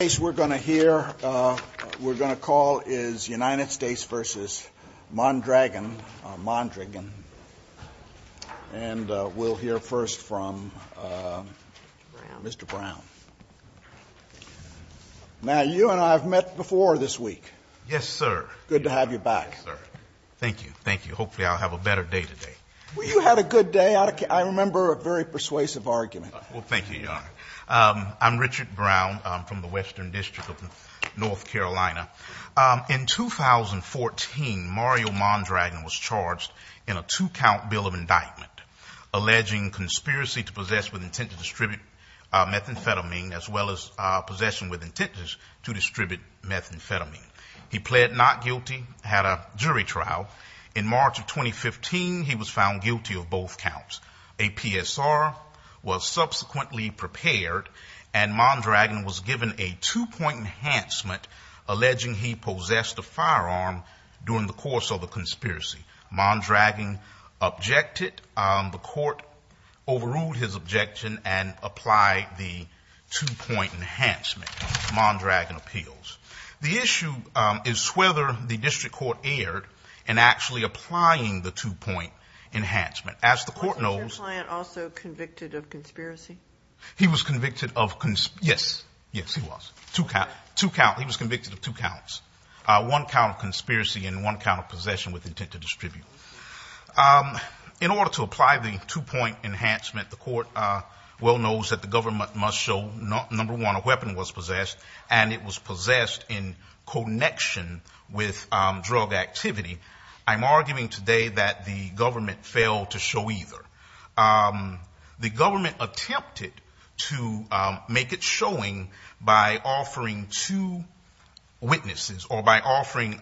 The case we're going to hear, we're going to call is United States v. Mondragon, Mondragon. And we'll hear first from Mr. Brown. Now, you and I have met before this week. Yes, sir. Good to have you back. Yes, sir. Thank you. Thank you. Hopefully, I'll have a better day today. Well, you had a good day. I remember a very persuasive argument. Well, thank you, Your Honor. I'm Richard Brown. I'm from the Western District of North Carolina. In 2014, Mario Mondragon was charged in a two-count bill of indictment alleging conspiracy to possess with intent to distribute methamphetamine, as well as possession with intent to distribute methamphetamine. He pled not guilty, had a jury trial. In March of 2015, he was found guilty of both counts. A PSR was subsequently prepared, and Mondragon was given a two-point enhancement alleging he possessed a firearm during the course of the conspiracy. Mondragon objected. The court overruled his objection and applied the two-point enhancement Mondragon appeals. The issue is whether the district court erred in actually applying the two-point enhancement. As the court knows- Wasn't your client also convicted of conspiracy? He was convicted of – yes. Yes, he was. Two counts. He was convicted of two counts. One count of conspiracy and one count of possession with intent to distribute. In order to apply the two-point enhancement, the court well knows that the government must show, number one, that a firearm or weapon was possessed, and it was possessed in connection with drug activity. I'm arguing today that the government failed to show either. The government attempted to make it showing by offering two witnesses or by offering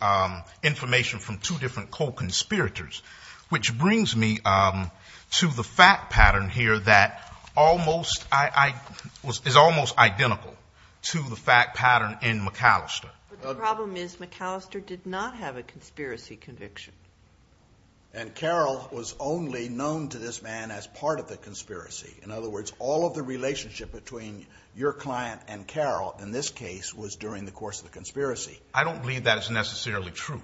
information from two different co-conspirators, which brings me to the fact pattern here that almost – is almost identical to the fact pattern in McAllister. But the problem is McAllister did not have a conspiracy conviction. And Carroll was only known to this man as part of the conspiracy. In other words, all of the relationship between your client and Carroll in this case was during the course of the conspiracy. I don't believe that is necessarily true.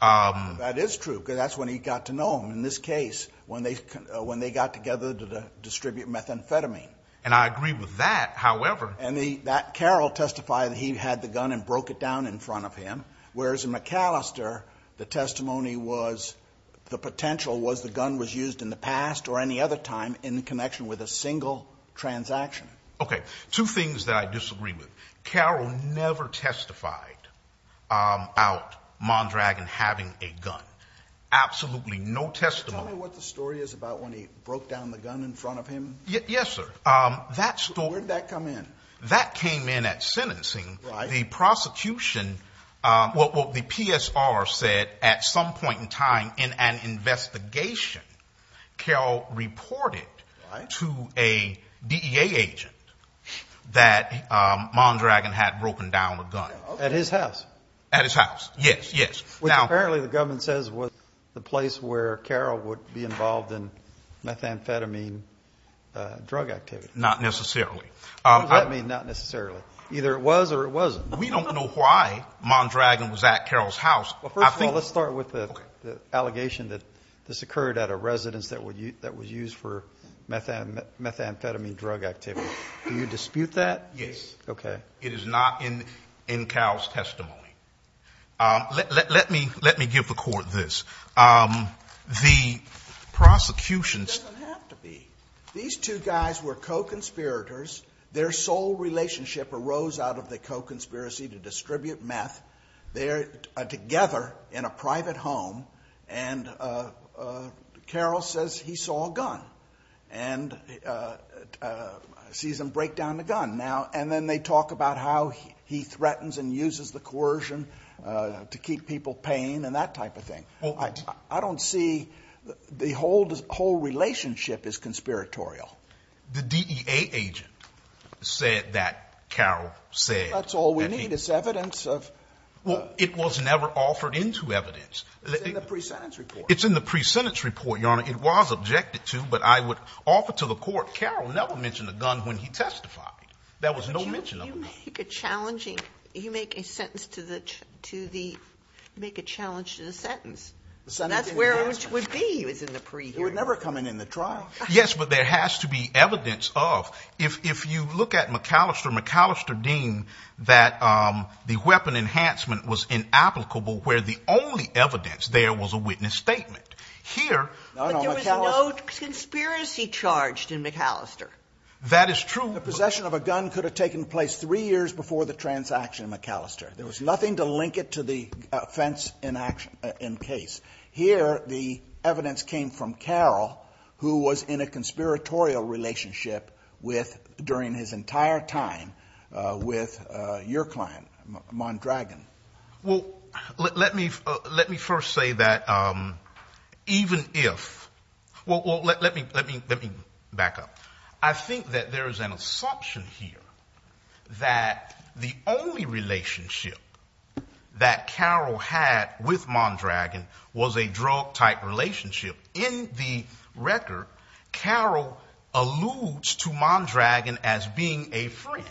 That is true because that's when he got to know him, in this case, when they got together to distribute methamphetamine. And I agree with that, however – And Carroll testified that he had the gun and broke it down in front of him, whereas in McAllister the testimony was – the potential was the gun was used in the past or any other time in connection with a single transaction. Okay. Two things that I disagree with. Carroll never testified about Mondragon having a gun. Absolutely no testimony. Tell me what the story is about when he broke down the gun in front of him. Yes, sir. Where did that come in? That came in at sentencing. Right. The prosecution – what the PSR said at some point in time in an investigation, Carroll reported to a DEA agent that Mondragon had broken down a gun. At his house? At his house, yes, yes. Which apparently the government says was the place where Carroll would be involved in methamphetamine drug activity. Not necessarily. What does that mean, not necessarily? Either it was or it wasn't. We don't know why Mondragon was at Carroll's house. Well, first of all, let's start with the allegation that this occurred at a residence that was used for methamphetamine drug activity. Do you dispute that? Yes. Okay. It is not in Carroll's testimony. Let me give the Court this. The prosecution's – It doesn't have to be. These two guys were co-conspirators. Their sole relationship arose out of the co-conspiracy to distribute meth. They are together in a private home. And Carroll says he saw a gun and sees him break down the gun. And then they talk about how he threatens and uses the coercion to keep people paying and that type of thing. I don't see – the whole relationship is conspiratorial. The DEA agent said that Carroll said that he – That's all we need is evidence of – Well, it was never offered into evidence. It's in the pre-sentence report. It's in the pre-sentence report, Your Honor. It was objected to, but I would offer to the Court. Carroll never mentioned a gun when he testified. There was no mention of a gun. You make a sentence to the – you make a challenge to the sentence. That's where it would be was in the pre-hearing. It would never come in in the trial. Yes, but there has to be evidence of – if you look at McAllister, McAllister deemed that the weapon enhancement was inapplicable, where the only evidence there was a witness statement. Here – But there was no conspiracy charged in McAllister. That is true. The possession of a gun could have taken place three years before the transaction in McAllister. There was nothing to link it to the offense in action – in case. Here, the evidence came from Carroll, who was in a conspiratorial relationship with – during his entire time with your client, Mondragon. Well, let me first say that even if – well, let me back up. I think that there is an assumption here that the only relationship that Carroll had with Mondragon was a drug-type relationship. In the record, Carroll alludes to Mondragon as being a friend.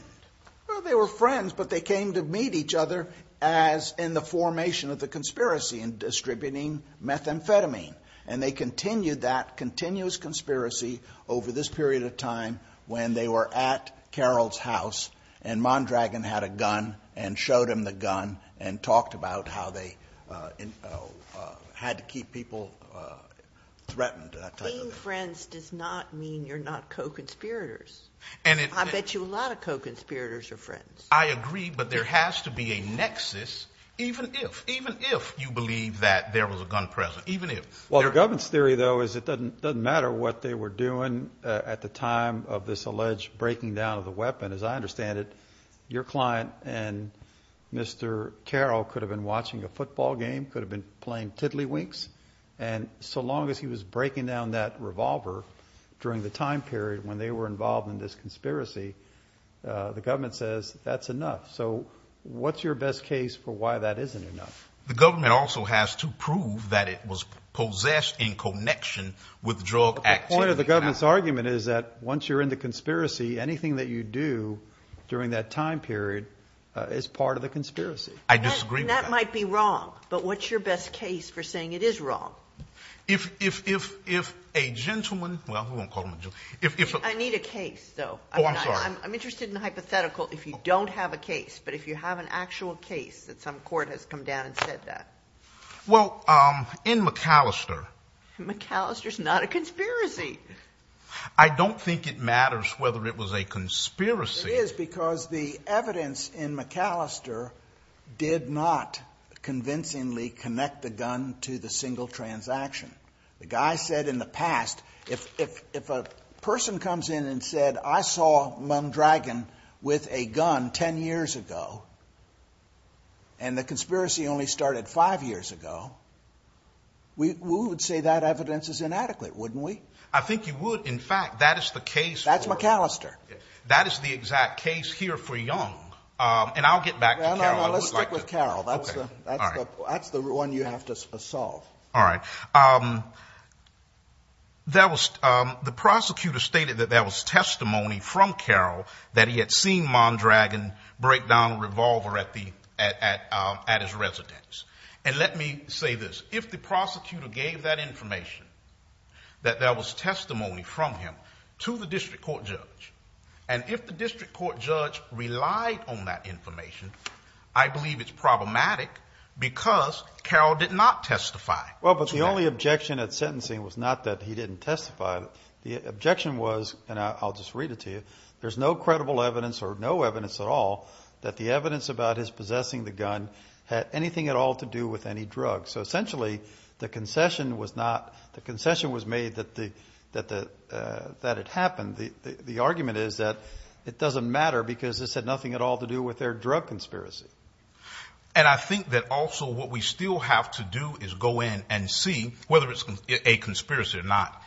Well, they were friends, but they came to meet each other as in the formation of the conspiracy in distributing methamphetamine. And they continued that continuous conspiracy over this period of time when they were at Carroll's house and Mondragon had a gun and showed him the gun and talked about how they had to keep people threatened, that type of thing. Being friends does not mean you're not co-conspirators. I bet you a lot of co-conspirators are friends. I agree, but there has to be a nexus even if – even if you believe that there was a gun present. Well, the government's theory, though, is it doesn't matter what they were doing at the time of this alleged breaking down of the weapon. As I understand it, your client and Mr. Carroll could have been watching a football game, could have been playing tiddlywinks. And so long as he was breaking down that revolver during the time period when they were involved in this conspiracy, the government says that's enough. So what's your best case for why that isn't enough? The government also has to prove that it was possessed in connection with drug activity. But the point of the government's argument is that once you're in the conspiracy, anything that you do during that time period is part of the conspiracy. I disagree with that. And that might be wrong, but what's your best case for saying it is wrong? If a gentleman – well, we won't call him a gentleman. I need a case, though. Oh, I'm sorry. I'm interested in hypothetical if you don't have a case, but if you have an actual case that some court has come down and said that. Well, in McAllister. McAllister's not a conspiracy. I don't think it matters whether it was a conspiracy. It is because the evidence in McAllister did not convincingly connect the gun to the single transaction. The guy said in the past, if a person comes in and said, I saw Mondragon with a gun 10 years ago, and the conspiracy only started five years ago, we would say that evidence is inadequate, wouldn't we? I think you would. In fact, that is the case. That's McAllister. That is the exact case here for Young. And I'll get back to Carroll. No, no, no, let's stick with Carroll. That's the one you have to solve. All right. The prosecutor stated that there was testimony from Carroll that he had seen Mondragon break down a revolver at his residence. And let me say this. If the prosecutor gave that information, that there was testimony from him to the district court judge, and if the district court judge relied on that information, I believe it's problematic because Carroll did not testify. Well, but the only objection at sentencing was not that he didn't testify. The objection was, and I'll just read it to you, there's no credible evidence or no evidence at all that the evidence about his possessing the gun had anything at all to do with any drugs. So essentially the concession was made that it happened. The argument is that it doesn't matter because this had nothing at all to do with their drug conspiracy. And I think that also what we still have to do is go in and see, whether it's a conspiracy or not,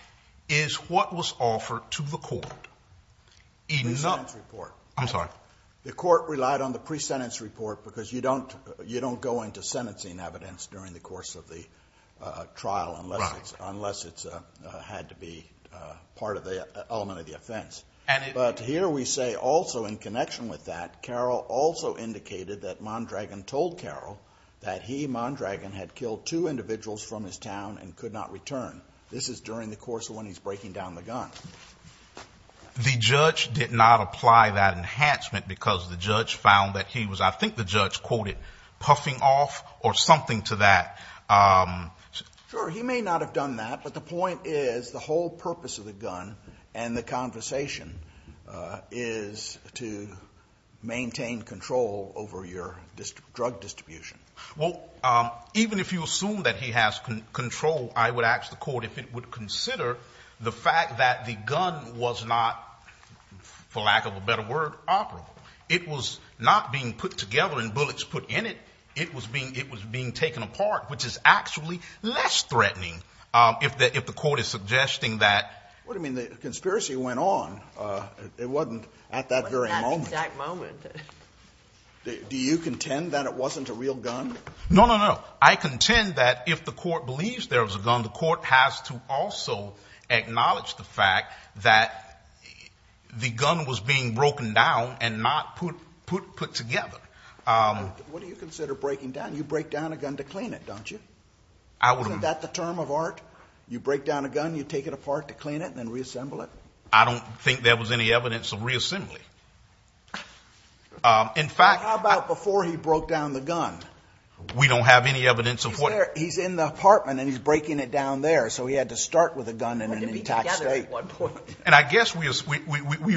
is what was offered to the court. The pre-sentence report. I'm sorry. The court relied on the pre-sentence report because you don't go into sentencing evidence during the course of the trial unless it's had to be part of the element of the offense. But here we say also in connection with that, Carroll also indicated that Mondragon told Carroll that he, Mondragon, had killed two individuals from his town and could not return. This is during the course of when he's breaking down the gun. The judge did not apply that enhancement because the judge found that he was, I think the judge quoted, puffing off or something to that. Sure. He may not have done that, but the point is the whole purpose of the gun and the conversation is to maintain control over your drug distribution. Well, even if you assume that he has control, I would ask the court if it would consider the fact that the gun was not, for lack of a better word, operable. It was not being put together and bullets put in it. It was being taken apart, which is actually less threatening if the court is suggesting that. What I mean, the conspiracy went on. It wasn't at that very moment. It wasn't at that exact moment. Do you contend that it wasn't a real gun? No, no, no. I contend that if the court believes there was a gun, the court has to also acknowledge the fact that the gun was being broken down and not put together. What do you consider breaking down? You break down a gun to clean it, don't you? Isn't that the term of art? You break down a gun, you take it apart to clean it and then reassemble it? I don't think there was any evidence of reassembly. In fact. How about before he broke down the gun? We don't have any evidence of what. He's in the apartment and he's breaking it down there, so he had to start with a gun in an intact state. And I guess we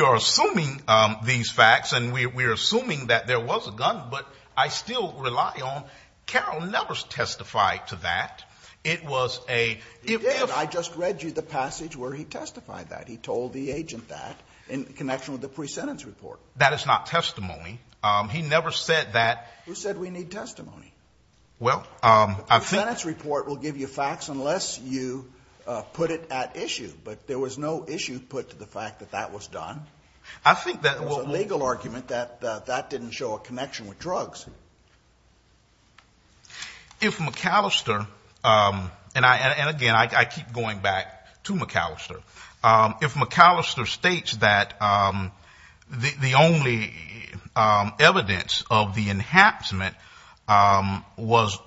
are assuming these facts and we are assuming that there was a gun, but I still rely on, Carroll never testified to that. It was a. He did. I just read you the passage where he testified that. He told the agent that in connection with the pre-sentence report. That is not testimony. He never said that. Who said we need testimony? Well, I think. The pre-sentence report will give you facts unless you put it at issue. But there was no issue put to the fact that that was done. I think that. There was a legal argument that that didn't show a connection with drugs. If McAllister and I and again, I keep going back to McAllister. If McAllister states that the only evidence of the enhancement was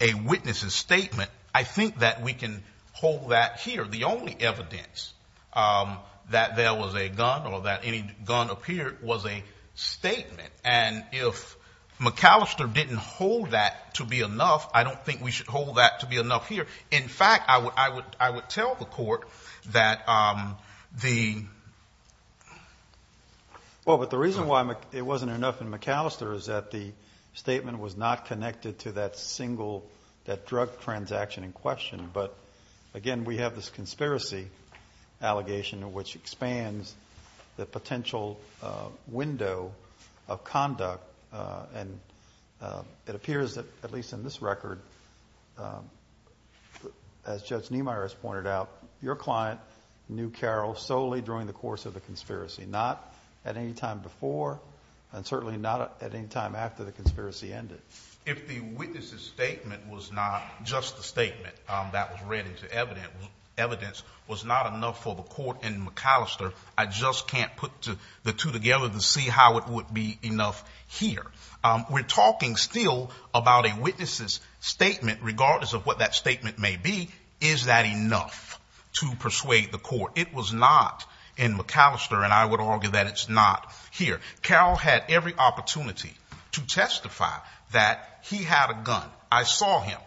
a witness's statement. I think that we can hold that here. The only evidence that there was a gun or that any gun appeared was a statement. And if McAllister didn't hold that to be enough, I don't think we should hold that to be enough here. In fact, I would tell the court that the. Well, but the reason why it wasn't enough in McAllister is that the statement was not connected to that single. That drug transaction in question. But again, we have this conspiracy allegation in which expands the potential window of conduct. And it appears that at least in this record, as Judge Niemeyer has pointed out, your client knew Carol solely during the course of the conspiracy. Not at any time before and certainly not at any time after the conspiracy ended. If the witness's statement was not just the statement that was read into evidence, evidence was not enough for the court in McAllister. I just can't put the two together to see how it would be enough here. We're talking still about a witness's statement, regardless of what that statement may be. Is that enough to persuade the court? It was not in McAllister. And I would argue that it's not here. Carol had every opportunity to testify that he had a gun. I saw him.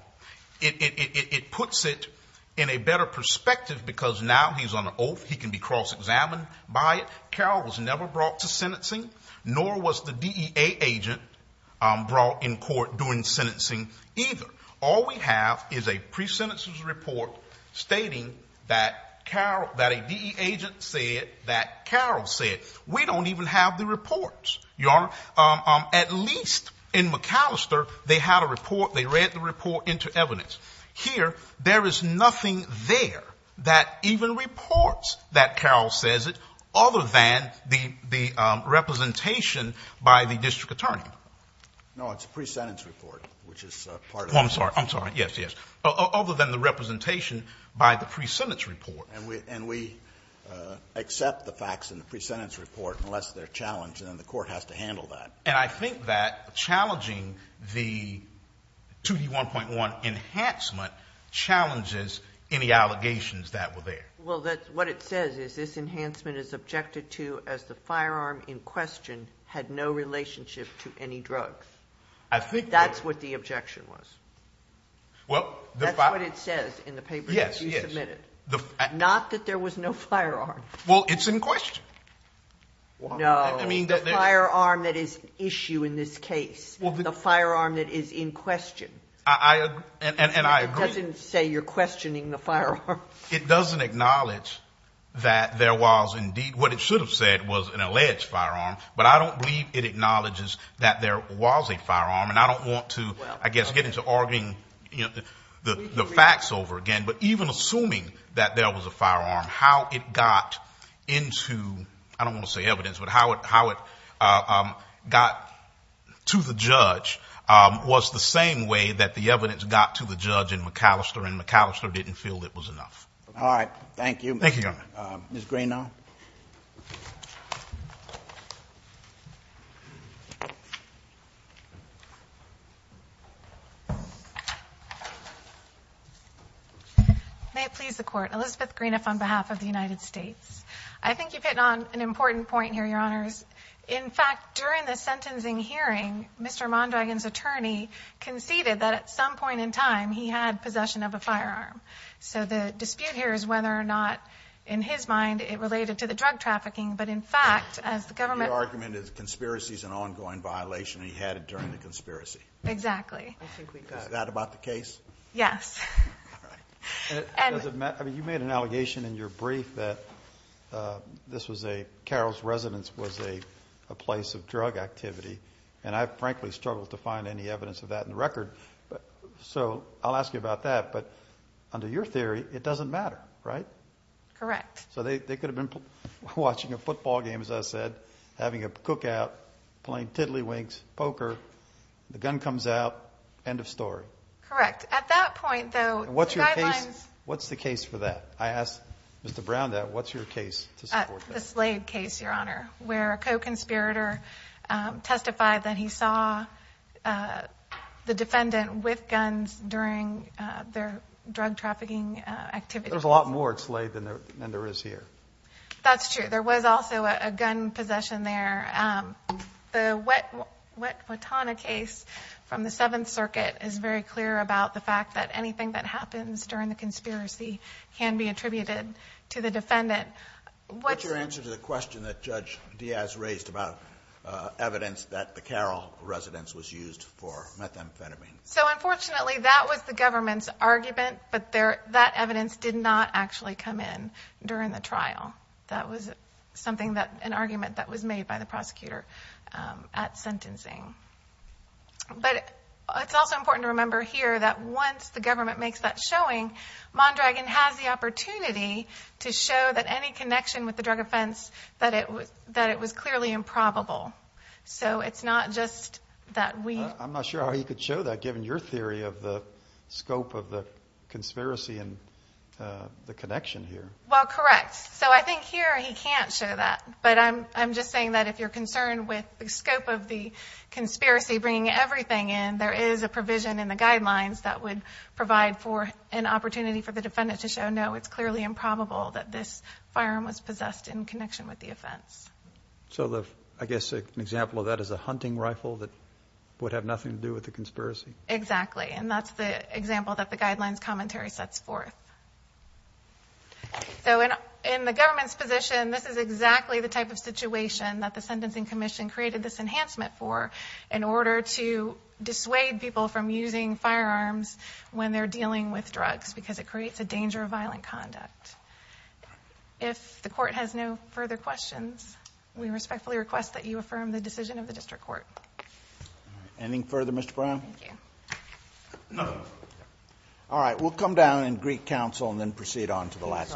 It puts it in a better perspective because now he's on an oath. He can be cross-examined by it. Carol was never brought to sentencing, nor was the DEA agent brought in court during sentencing either. All we have is a pre-sentence report stating that Carol, that a DEA agent said that Carol said. We don't even have the reports, Your Honor. At least in McAllister, they had a report, they read the report into evidence. Here, there is nothing there that even reports that Carol says it, other than the representation by the district attorney. No, it's a pre-sentence report, which is part of it. I'm sorry, I'm sorry. Yes, yes. Other than the representation by the pre-sentence report. And we accept the facts in the pre-sentence report, unless they're challenged, and then the court has to handle that. And I think that challenging the 2D1.1 enhancement challenges any allegations that were there. Well, what it says is this enhancement is objected to as the firearm in question had no relationship to any drugs. I think that's what the objection was. That's what it says in the paper that you submitted. Yes, yes. Not that there was no firearm. Well, it's in question. No, the firearm that is an issue in this case, the firearm that is in question. And I agree. It doesn't say you're questioning the firearm. It doesn't acknowledge that there was indeed what it should have said was an alleged firearm. But I don't believe it acknowledges that there was a firearm. And I don't want to, I guess, get into arguing the facts over again. But even assuming that there was a firearm, how it got into, I don't want to say evidence, but how it got to the judge was the same way that the evidence got to the judge in McAllister, and McAllister didn't feel it was enough. All right. Thank you. Thank you, Your Honor. Ms. Greenough. May it please the Court. Elizabeth Greenough on behalf of the United States. I think you've hit on an important point here, Your Honors. In fact, during the sentencing hearing, Mr. Mondragon's attorney conceded that at some point in time he had possession of a firearm. So the dispute here is whether or not, in his mind, it related to the drug trafficking. But in fact, as the government ---- Your argument is the conspiracy is an ongoing violation. He had it during the conspiracy. Exactly. Is that about the case? Yes. All right. You made an allegation in your brief that this was a ---- Carol's residence was a place of drug activity, and I frankly struggled to find any evidence of that in the record. So I'll ask you about that. But under your theory, it doesn't matter, right? Correct. So they could have been watching a football game, as I said, having a cookout, playing tiddlywinks, poker, the gun comes out, end of story. Correct. At that point, though, the guidelines ---- What's the case for that? I asked Mr. Brown that. What's your case to support that? The Slade case, Your Honor, where a co-conspirator testified that he saw the defendant with guns during their drug trafficking activities. There's a lot more at Slade than there is here. That's true. There was also a gun possession there. The Wetwatonna case from the Seventh Circuit is very clear about the fact that anything that happens during the conspiracy can be attributed to the defendant. What's your answer to the question that Judge Diaz raised about evidence that the Carol residence was used for methamphetamine? So unfortunately, that was the government's argument, but that evidence did not actually come in during the trial. That was an argument that was made by the prosecutor at sentencing. But it's also important to remember here that once the government makes that showing, Mondragon has the opportunity to show that any connection with the drug offense, that it was clearly improbable. So it's not just that we ---- I'm not sure how you could show that given your theory of the scope of the conspiracy and the connection here. Well, correct. So I think here he can't show that, but I'm just saying that if you're concerned with the scope of the conspiracy bringing everything in, there is a provision in the guidelines that would provide for an opportunity for the defendant to show, no, it's clearly improbable that this firearm was possessed in connection with the offense. So I guess an example of that is a hunting rifle that would have nothing to do with the conspiracy. Exactly. And that's the example that the guidelines commentary sets forth. So in the government's position, this is exactly the type of situation that the sentencing commission created this enhancement for in order to dissuade people from using firearms when they're dealing with drugs because it creates a danger of violent conduct. If the court has no further questions, we respectfully request that you affirm the decision of the district court. Anything further, Mr. Brown? Thank you. All right. We'll come down in Greek council and then proceed on to the last.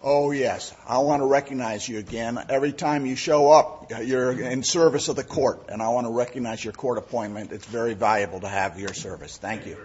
Oh, yes. I want to recognize you again. Every time you show up, you're in service of the court, and I want to recognize your court appointment. It's very valuable to have your service. Thank you. Yeah.